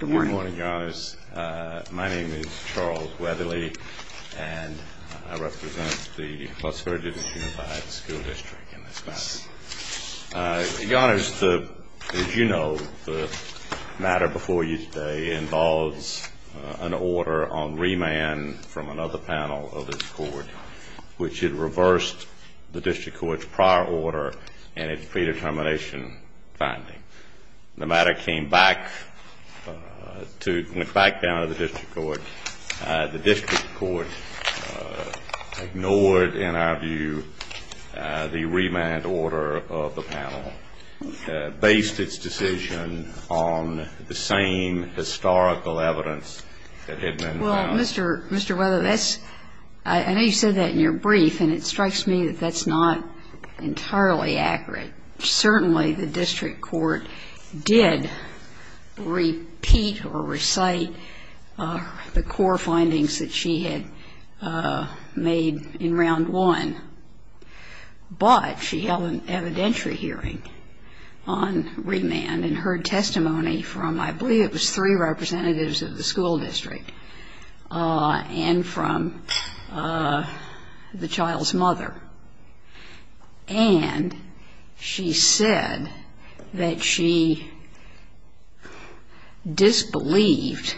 Good morning, Your Honors. My name is Charles Weatherly, and I represent the Las Virgenes Unified School District in this matter. Your Honors, as you know, the matter before you today involves an order on remand from another panel of this Court, which had reversed the District Court's prior order in its predetermination finding. The matter came back to, went back down to the District Court. The District Court ignored, in our view, the remand order of the panel, based its decision on the same historical evidence that had been found. Well, Mr. Weatherly, I know you said that in your brief, and it strikes me that that's not entirely accurate. Certainly, the District Court did repeat or recite the core findings that she had made in Round 1, but she held an evidentiary hearing on remand and heard testimony from, I believe it was three representatives of the school district, and from the child's mother. And she said that she disbelieved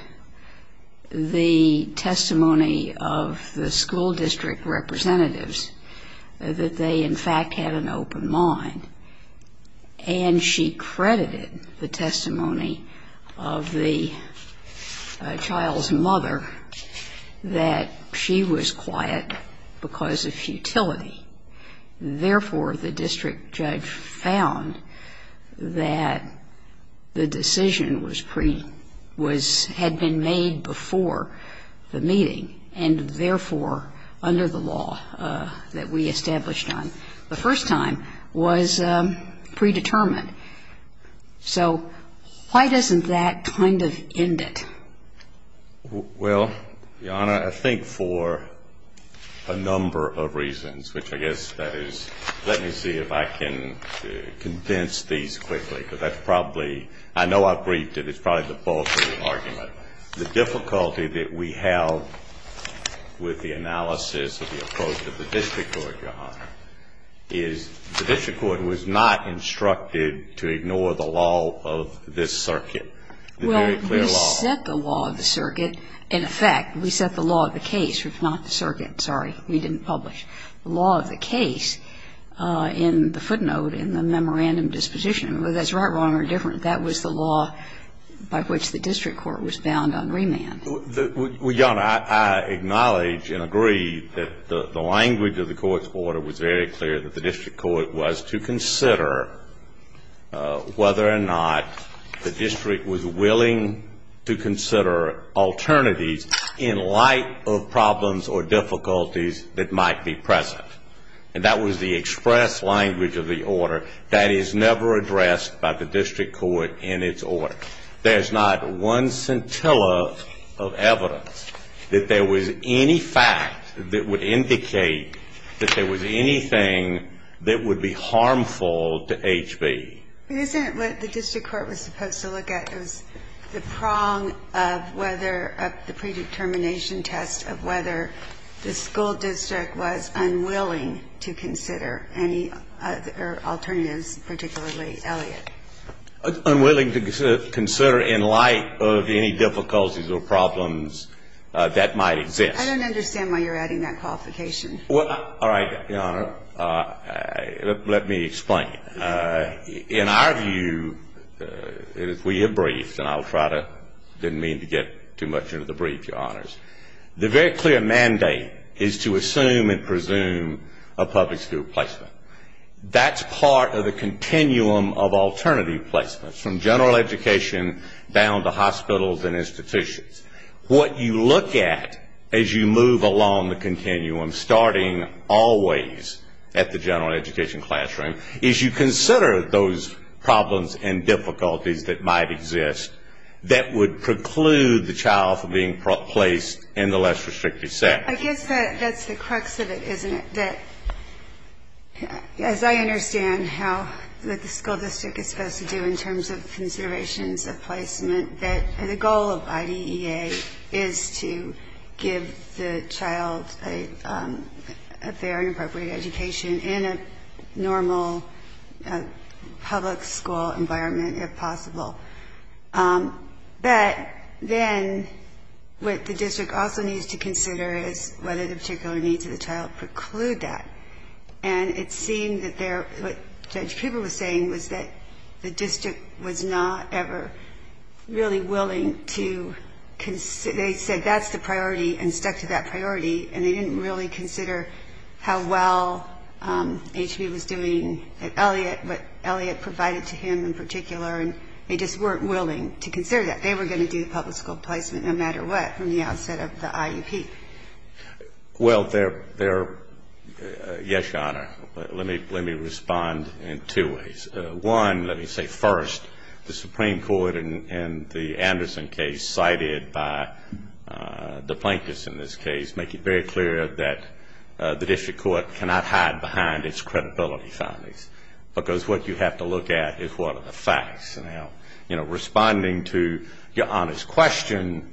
the testimony of the school district representatives, that they, in fact, had an open mind. And she credited the testimony of the child's mother that she was quiet because of futility. Therefore, the district judge found that the decision was pre, was, had been made before the meeting, and therefore, under the law that we established on. The first time was predetermined. So why doesn't that kind of end it? Well, Your Honor, I think for a number of reasons, which I guess that is, let me see if I can condense these quickly, because that's probably, I know I've briefed it, it's probably the bulk of the argument. But the difficulty that we have with the analysis of the approach of the District Court, Your Honor, is the District Court was not instructed to ignore the law of this circuit, the very clear law. Well, we set the law of the circuit. In effect, we set the law of the case, if not the circuit. Sorry, we didn't publish. The law of the case in the footnote in the memorandum disposition, whether that's right, wrong, or different, that was the law by which the District Court was bound on remand. Well, Your Honor, I acknowledge and agree that the language of the Court's order was very clear, that the District Court was to consider whether or not the district was willing to consider alternatives in light of problems or difficulties that might be present. And that was the express language of the order that is never addressed by the District Court in its order. There's not one scintilla of evidence that there was any fact that would indicate that there was anything that would be harmful to H.B. But isn't it what the District Court was supposed to look at? It was the prong of whether the predetermination test of whether the school district was unwilling to consider any other alternatives, particularly Elliott. Unwilling to consider in light of any difficulties or problems that might exist. I don't understand why you're adding that qualification. Well, all right, Your Honor. Let me explain. In our view, if we are briefed, and I didn't mean to get too much into the brief, Your Honors, the very clear mandate is to assume and presume a public school placement. That's part of the continuum of alternative placements from general education down to hospitals and institutions. What you look at as you move along the continuum, starting always at the general education classroom, is you consider those problems and difficulties that might exist that would preclude the child from being placed in the less restrictive setting. I guess that's the crux of it, isn't it? That, as I understand how the school district is supposed to do in terms of considerations of placement, that the goal of IDEA is to give the child a fair and appropriate education in a normal public school environment if possible. But then what the district also needs to consider is whether the particular needs of the child preclude that. And it seemed that there, what Judge Peeble was saying was that the district was not ever really willing to, they said that's the priority and stuck to that priority, and they didn't really consider how well HB was doing at Elliott, what Elliott provided to him in particular, and they just weren't willing to consider that. They were going to do the public school placement no matter what from the outset of the IUP. Well, yes, Your Honor. Let me respond in two ways. One, let me say first, the Supreme Court in the Anderson case cited by Duplankis in this case make it very clear that the district court cannot hide behind its credibility findings, because what you have to look at is what are the facts. Now, you know, responding to Your Honor's question,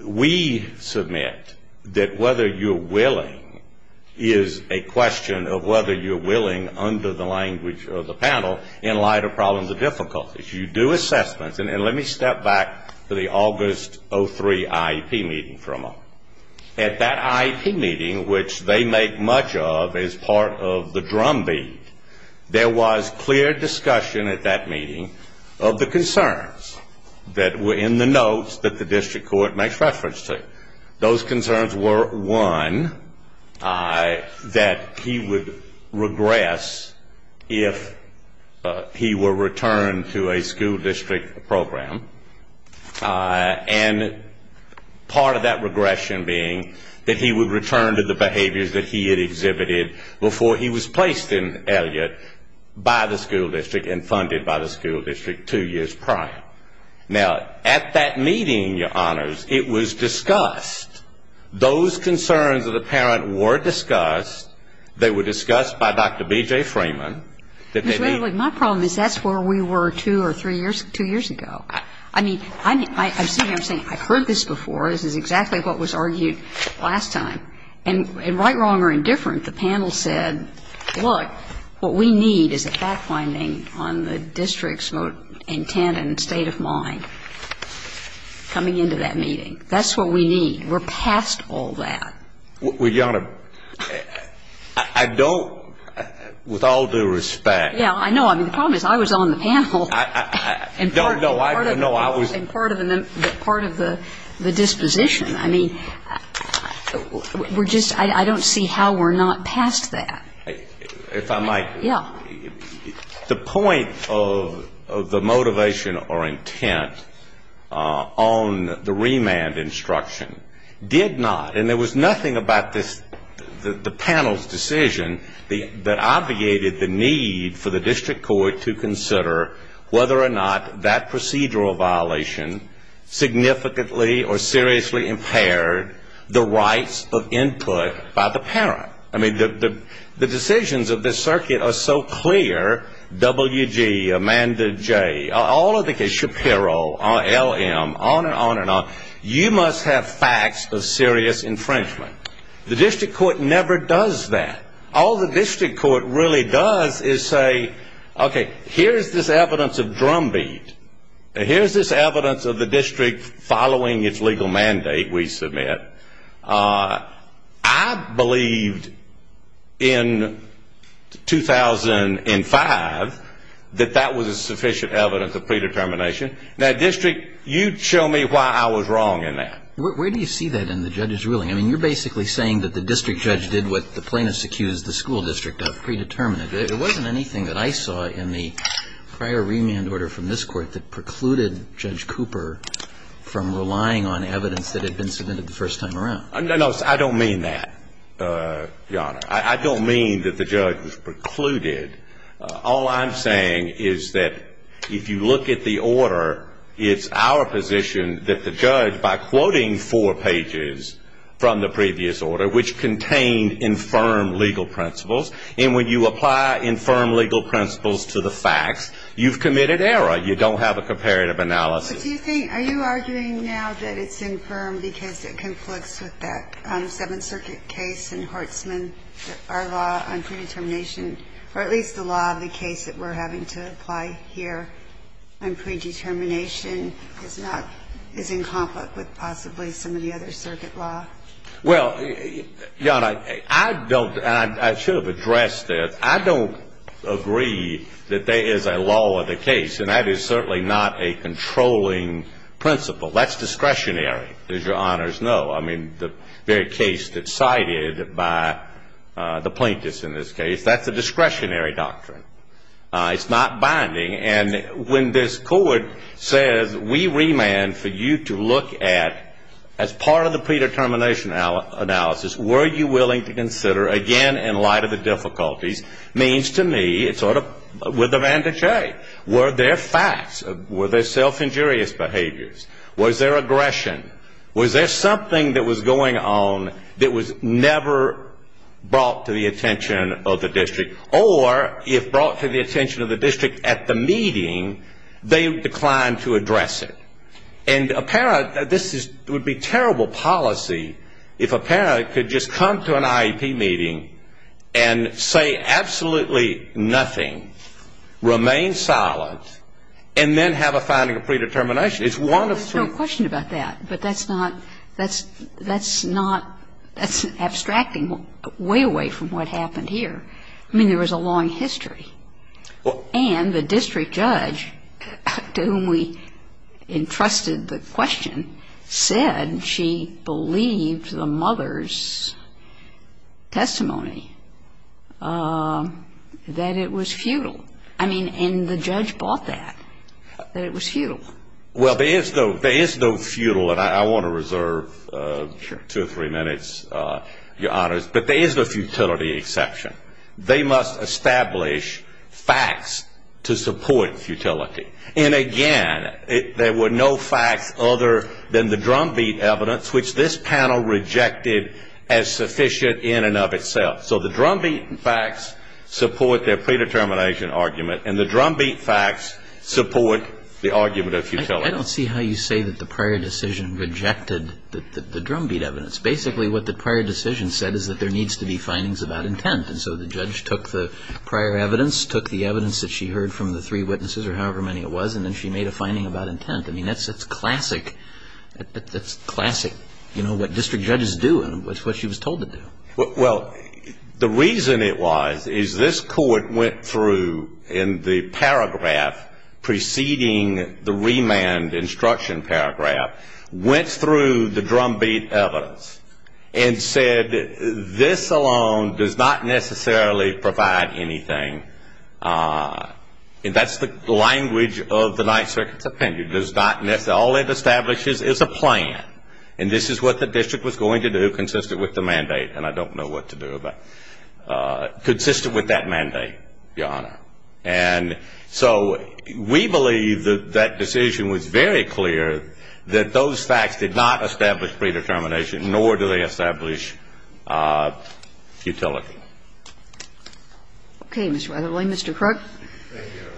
we submit that whether you're willing is a question of whether you're willing under the language of the panel in light of problems or difficulties. You do assessments, and let me step back to the August 03 IEP meeting for a moment. At that IEP meeting, which they make much of as part of the drumbeat, there was clear discussion at that meeting of the concerns that were in the notes that the district court makes reference to. Those concerns were, one, that he would regress if he were returned to a school district program, and part of that regression being that he would return to the behaviors that he had exhibited before he was placed in Elliott by the school district and funded by the school district two years prior. Now, at that meeting, Your Honors, it was discussed, those concerns of the parent were discussed. They were discussed by Dr. B.J. Freeman. My problem is that's where we were two or three years, two years ago. I mean, I'm sitting here saying I've heard this before. This is exactly what was argued last time. And right, wrong, or indifferent, the panel said, look, what we need is a fact-finding on the district's intent and state of mind coming into that meeting. That's what we need. We're past all that. Well, Your Honor, I don't, with all due respect. Yeah, I know. I mean, the problem is I was on the panel. No, no, I was. And part of the disposition. I mean, we're just, I don't see how we're not past that. If I might. Yeah. The point of the motivation or intent on the remand instruction did not, and there was nothing about this, the panel's decision, that obviated the need for the district court to consider whether or not that procedural violation significantly or seriously impaired the rights of input by the parent. I mean, the decisions of this circuit are so clear, W.G., Amanda J., all of the cases, Shapiro, L.M., on and on and on. You must have facts of serious infringement. The district court never does that. All the district court really does is say, okay, here's this evidence of drumbeat. Here's this evidence of the district following its legal mandate, we submit. I believed in 2005 that that was a sufficient evidence of predetermination. Now, district, you show me why I was wrong in that. Where do you see that in the judge's ruling? I mean, you're basically saying that the district judge did what the plaintiffs accused the school district of, predetermined it. It wasn't anything that I saw in the prior remand order from this Court that precluded Judge Cooper from relying on evidence that had been submitted the first time around. No, I don't mean that, Your Honor. I don't mean that the judge precluded. All I'm saying is that if you look at the order, it's our position that the judge, by quoting four pages from the previous order, which contained infirm legal principles, and when you apply infirm legal principles to the facts, you've committed error. You don't have a comparative analysis. But do you think, are you arguing now that it's infirm because it conflicts with that Seventh Circuit case in Hortsman, our law on predetermination, or at least the law of the case that we're having to apply here on predetermination is not, is in conflict with possibly some of the other circuit law? Well, Your Honor, I don't, and I should have addressed this. I don't agree that there is a law of the case, and that is certainly not a controlling principle. That's discretionary, as Your Honors know. I mean, the very case that's cited by the plaintiffs in this case, that's a discretionary doctrine. It's not binding. And when this court says, we remand for you to look at, as part of the predetermination analysis, were you willing to consider, again, in light of the difficulties, means to me, it's sort of, with a vantage eye, were there facts? Were there self-injurious behaviors? Was there aggression? Was there something that was going on that was never brought to the attention of the district? Or if brought to the attention of the district at the meeting, they declined to address it. And a parent, this would be terrible policy if a parent could just come to an IEP meeting and say absolutely nothing, remain silent, and then have a finding of predetermination. It's one of two. There's no question about that. But that's not, that's not, that's abstracting way away from what happened here. I mean, there was a long history. And the district judge to whom we entrusted the question said she believed the mother's testimony that it was futile. I mean, and the judge bought that, that it was futile. Well, there is no, there is no futile, and I want to reserve two or three minutes, Your Honors. But there is a futility exception. They must establish facts to support futility. And again, there were no facts other than the drumbeat evidence, which this panel rejected as sufficient in and of itself. So the drumbeat facts support their predetermination argument, and the drumbeat facts support the argument of futility. I don't see how you say that the prior decision rejected the drumbeat evidence. It's basically what the prior decision said is that there needs to be findings about intent. And so the judge took the prior evidence, took the evidence that she heard from the three witnesses or however many it was, and then she made a finding about intent. I mean, that's classic, that's classic, you know, what district judges do and what she was told to do. Well, the reason it was is this court went through in the paragraph preceding the remand instruction paragraph, went through the drumbeat evidence and said this alone does not necessarily provide anything. And that's the language of the Ninth Circuit's opinion, does not necessarily, all it establishes is a plan. And this is what the district was going to do consistent with the mandate. And I don't know what to do about it. Consistent with that mandate, Your Honor. And so we believe that that decision was very clear that those facts did not establish predetermination, nor do they establish futility. Okay. Mr. Weatherly, Mr. Crook. Thank you, Your Honor.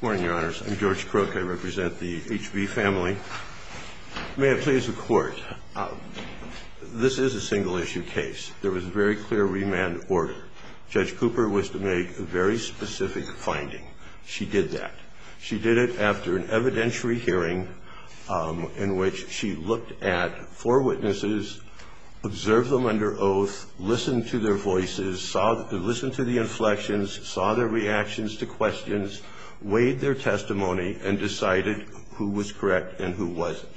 Good morning, Your Honors. I'm George Crook. I represent the HB family. May it please the Court. This is a single-issue case. There was a very clear remand order. Judge Cooper was to make a very specific finding. She did that. She did it after an evidentiary hearing in which she looked at four witnesses, observed them under oath, listened to their voices, listened to the inflections, saw their reactions to questions, weighed their testimony, and decided who was correct and who wasn't.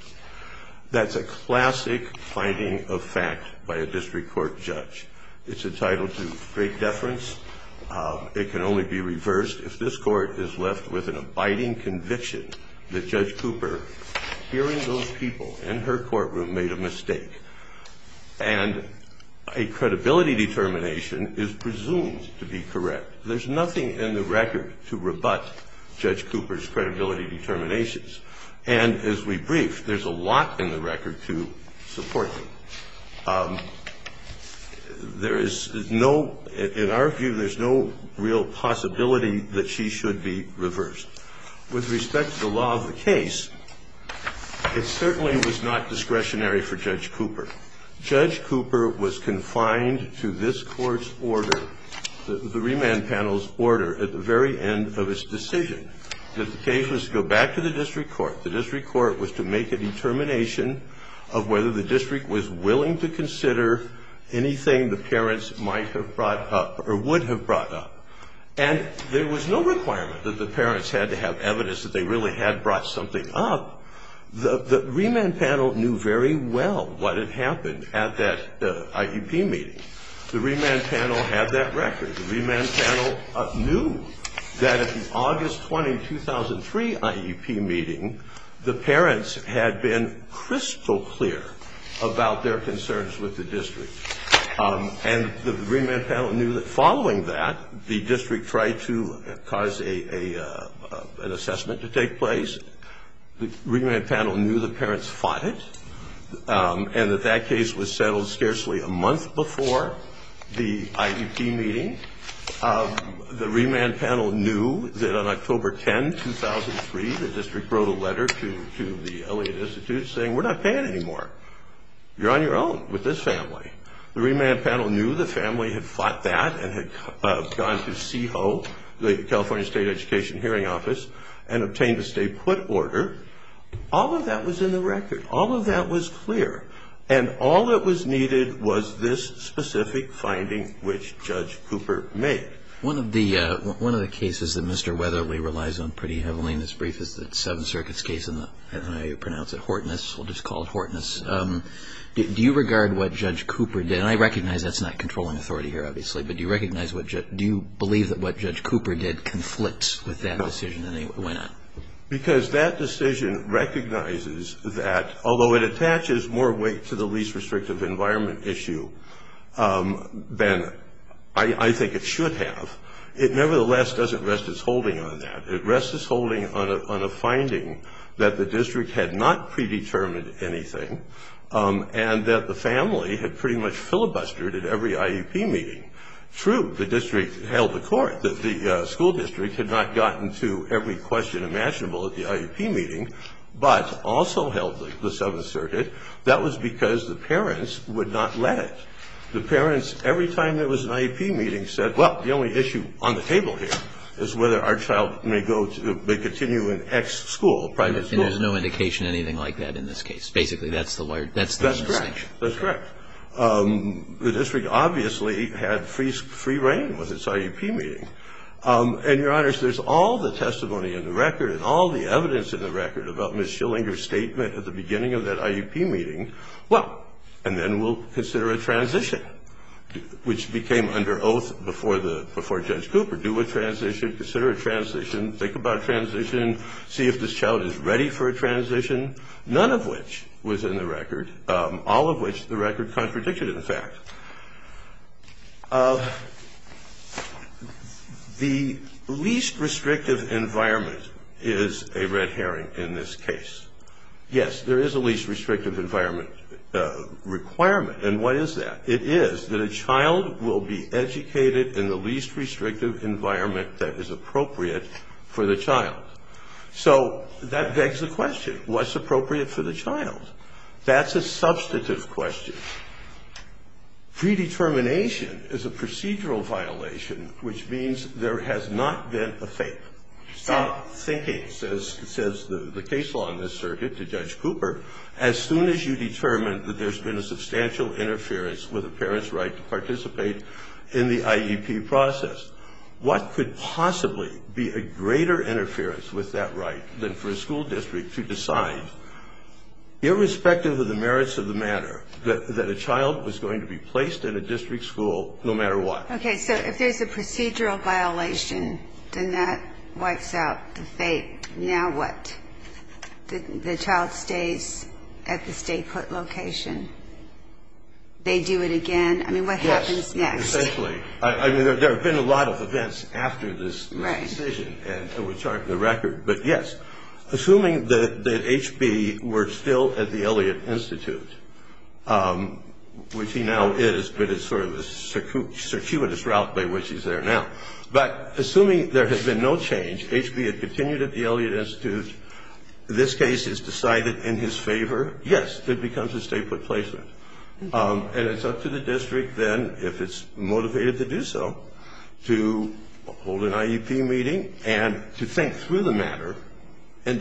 That's a classic finding of fact by a district court judge. It's entitled to great deference. It can only be reversed if this Court is left with an abiding conviction that Judge Cooper, hearing those people in her courtroom, made a mistake. And a credibility determination is presumed to be correct. There's nothing in the record to rebut Judge Cooper's credibility determinations. And, as we briefed, there's a lot in the record to support them. There is no ñ in our view, there's no real possibility that she should be reversed. With respect to the law of the case, it certainly was not discretionary for Judge Cooper. Judge Cooper was confined to this Court's order, the remand panel's order, at the very end of its decision. The case was to go back to the district court. The district court was to make a determination of whether the district was willing to consider anything the parents might have brought up or would have brought up. And there was no requirement that the parents had to have evidence that they really had brought something up. The remand panel knew very well what had happened at that IEP meeting. The remand panel had that record. The remand panel knew that at the August 20, 2003, IEP meeting, the parents had been crystal clear about their concerns with the district. And the remand panel knew that following that, the district tried to cause an assessment to take place. The remand panel knew the parents fought it and that that case was settled scarcely a month before the IEP meeting. The remand panel knew that on October 10, 2003, the district wrote a letter to the Elliott Institute saying, We're not paying anymore. You're on your own with this family. The remand panel knew the family had fought that and had gone to CEHO, the California State Education Hearing Office, and obtained a stay-put order. All of that was in the record. All of that was clear. And all that was needed was this specific finding, which Judge Cooper made. One of the cases that Mr. Weatherly relies on pretty heavily in this brief is the Seventh Circuit's case in the, I don't know how you pronounce it, Hortness. We'll just call it Hortness. Do you regard what Judge Cooper did, and I recognize that's not controlling authority here, obviously, but do you recognize what Judge, do you believe that what Judge Cooper did conflicts with that decision and why not? Because that decision recognizes that, although it attaches more weight to the least restrictive environment issue than I think it should have, it nevertheless doesn't rest its holding on that. It rests its holding on a finding that the district had not predetermined anything and that the family had pretty much filibustered at every IEP meeting. True, the district held the court that the school district had not gotten to every question imaginable at the IEP meeting, but also held the Seventh Circuit. That was because the parents would not let it. The parents, every time there was an IEP meeting, said, well, the only issue on the table here is whether our child may go to, may continue in X school, private school. And there's no indication anything like that in this case. Basically, that's the word. That's the distinction. That's correct. The district obviously had free reign with its IEP meeting. And, Your Honors, there's all the testimony in the record and all the evidence in the record about Ms. Schillinger's statement at the beginning of that IEP meeting. Well, and then we'll consider a transition, which became under oath before Judge Cooper. Do a transition, consider a transition, think about a transition, see if this child is ready for a transition, none of which was in the record, all of which the record contradicted, in fact. The least restrictive environment is a red herring in this case. Yes, there is a least restrictive environment requirement. And what is that? It is that a child will be educated in the least restrictive environment that is appropriate for the child. So that begs the question, what's appropriate for the child? That's a substantive question. Predetermination is a procedural violation, which means there has not been a fake. Stop thinking, says the case law in this circuit to Judge Cooper, as soon as you determine that there's been a substantial interference with a parent's right to participate in the IEP process. What could possibly be a greater interference with that right than for a school district to decide, irrespective of the merits of the matter, that a child was going to be placed in a district school no matter what? Okay, so if there's a procedural violation, then that wipes out the fake. Now what? The child stays at the state court location. They do it again. I mean, what happens next? Yes, essentially. I mean, there have been a lot of events after this decision, and we're charting the record. But, yes, assuming that H.B. were still at the Elliott Institute, which he now is, but it's sort of a circuitous route by which he's there now. But assuming there has been no change, H.B. had continued at the Elliott Institute, this case is decided in his favor, yes, it becomes a state court placement. And it's up to the district then, if it's motivated to do so, to hold an IEP meeting and to think through the matter and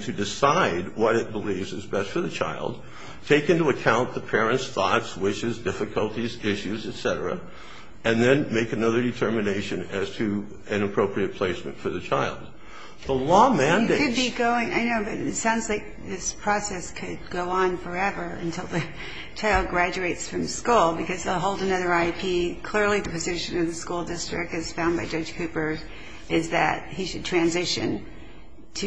to decide what it believes is best for the child, take into account the parent's thoughts, wishes, difficulties, issues, et cetera, and then make another determination as to an appropriate placement for the child. The law mandates. It could be going. I know, but it sounds like this process could go on forever until the child graduates from school, because they'll hold another IEP. Clearly, the position of the school district, as found by Judge Cooper, is that he should transition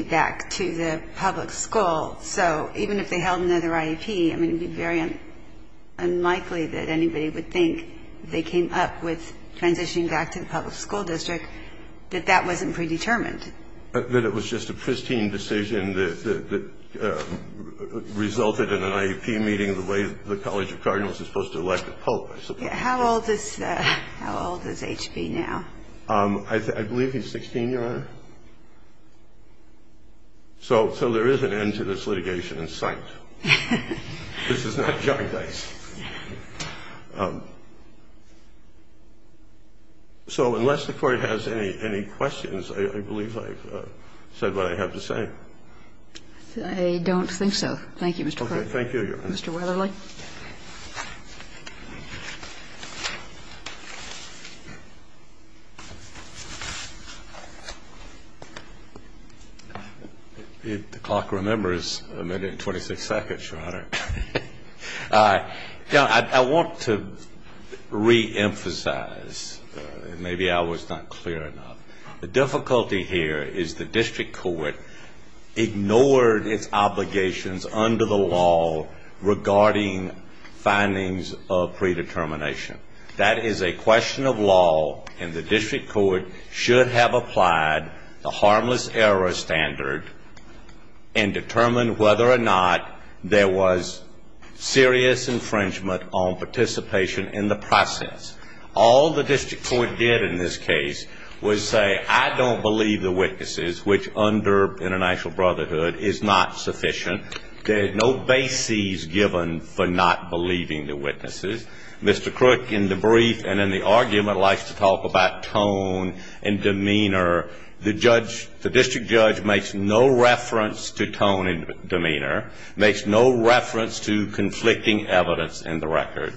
back to the public school. So even if they held another IEP, I mean, it would be very unlikely that anybody would think if they came up with transitioning back to the public school district that that wasn't predetermined. That it was just a pristine decision that resulted in an IEP meeting the way the College of Cardinals is supposed to elect a pope, I suppose. How old is H.B. now? I believe he's 16, Your Honor. So there is an end to this litigation in sight. This is not John Dice. So unless the Court has any questions, I believe I've said what I have to say. I don't think so. Thank you, Mr. Court. Okay. Thank you, Your Honor. Mr. Weatherly. I want to reemphasize. Maybe I was not clear enough. The difficulty here is the district court ignored its obligations under the law regarding findings of predetermination. That is a question of law, and the district court should have applied the harmless error standard and determined whether or not there was serious infringement on participation in the process. All the district court did in this case was say, I don't believe the witnesses, which under international brotherhood is not sufficient. There are no bases given for not believing the witnesses. Mr. Crook, in the brief and in the argument, likes to talk about tone and demeanor. The district judge makes no reference to tone and demeanor, makes no reference to conflicting evidence in the record,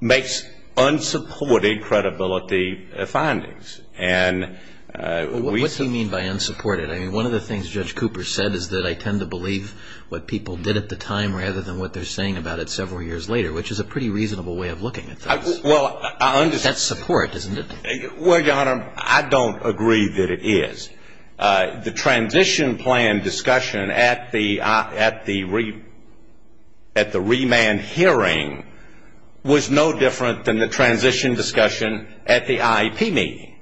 makes unsupported credibility findings. What do you mean by unsupported? I mean, one of the things Judge Cooper said is that I tend to believe what people did at the time rather than what they're saying about it several years later, which is a pretty reasonable way of looking at things. Well, I understand. That's support, isn't it? Well, Your Honor, I don't agree that it is. The transition plan discussion at the remand hearing was no different than the transition discussion at the IEP meeting,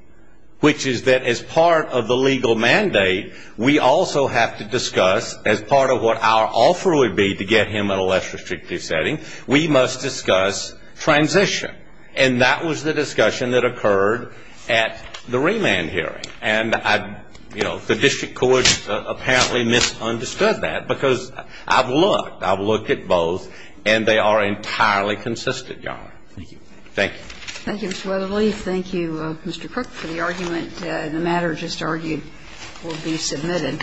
which is that as part of the legal mandate, we also have to discuss, as part of what our offer would be to get him in a less restrictive setting, we must discuss transition. And that was the discussion that occurred at the remand hearing. And I, you know, the district courts apparently misunderstood that because I've looked. I've looked at both, and they are entirely consistent, Your Honor. Thank you. Thank you. Thank you, Mr. Weatherly. Thank you, Mr. Crook, for the argument. The matter just argued will be submitted.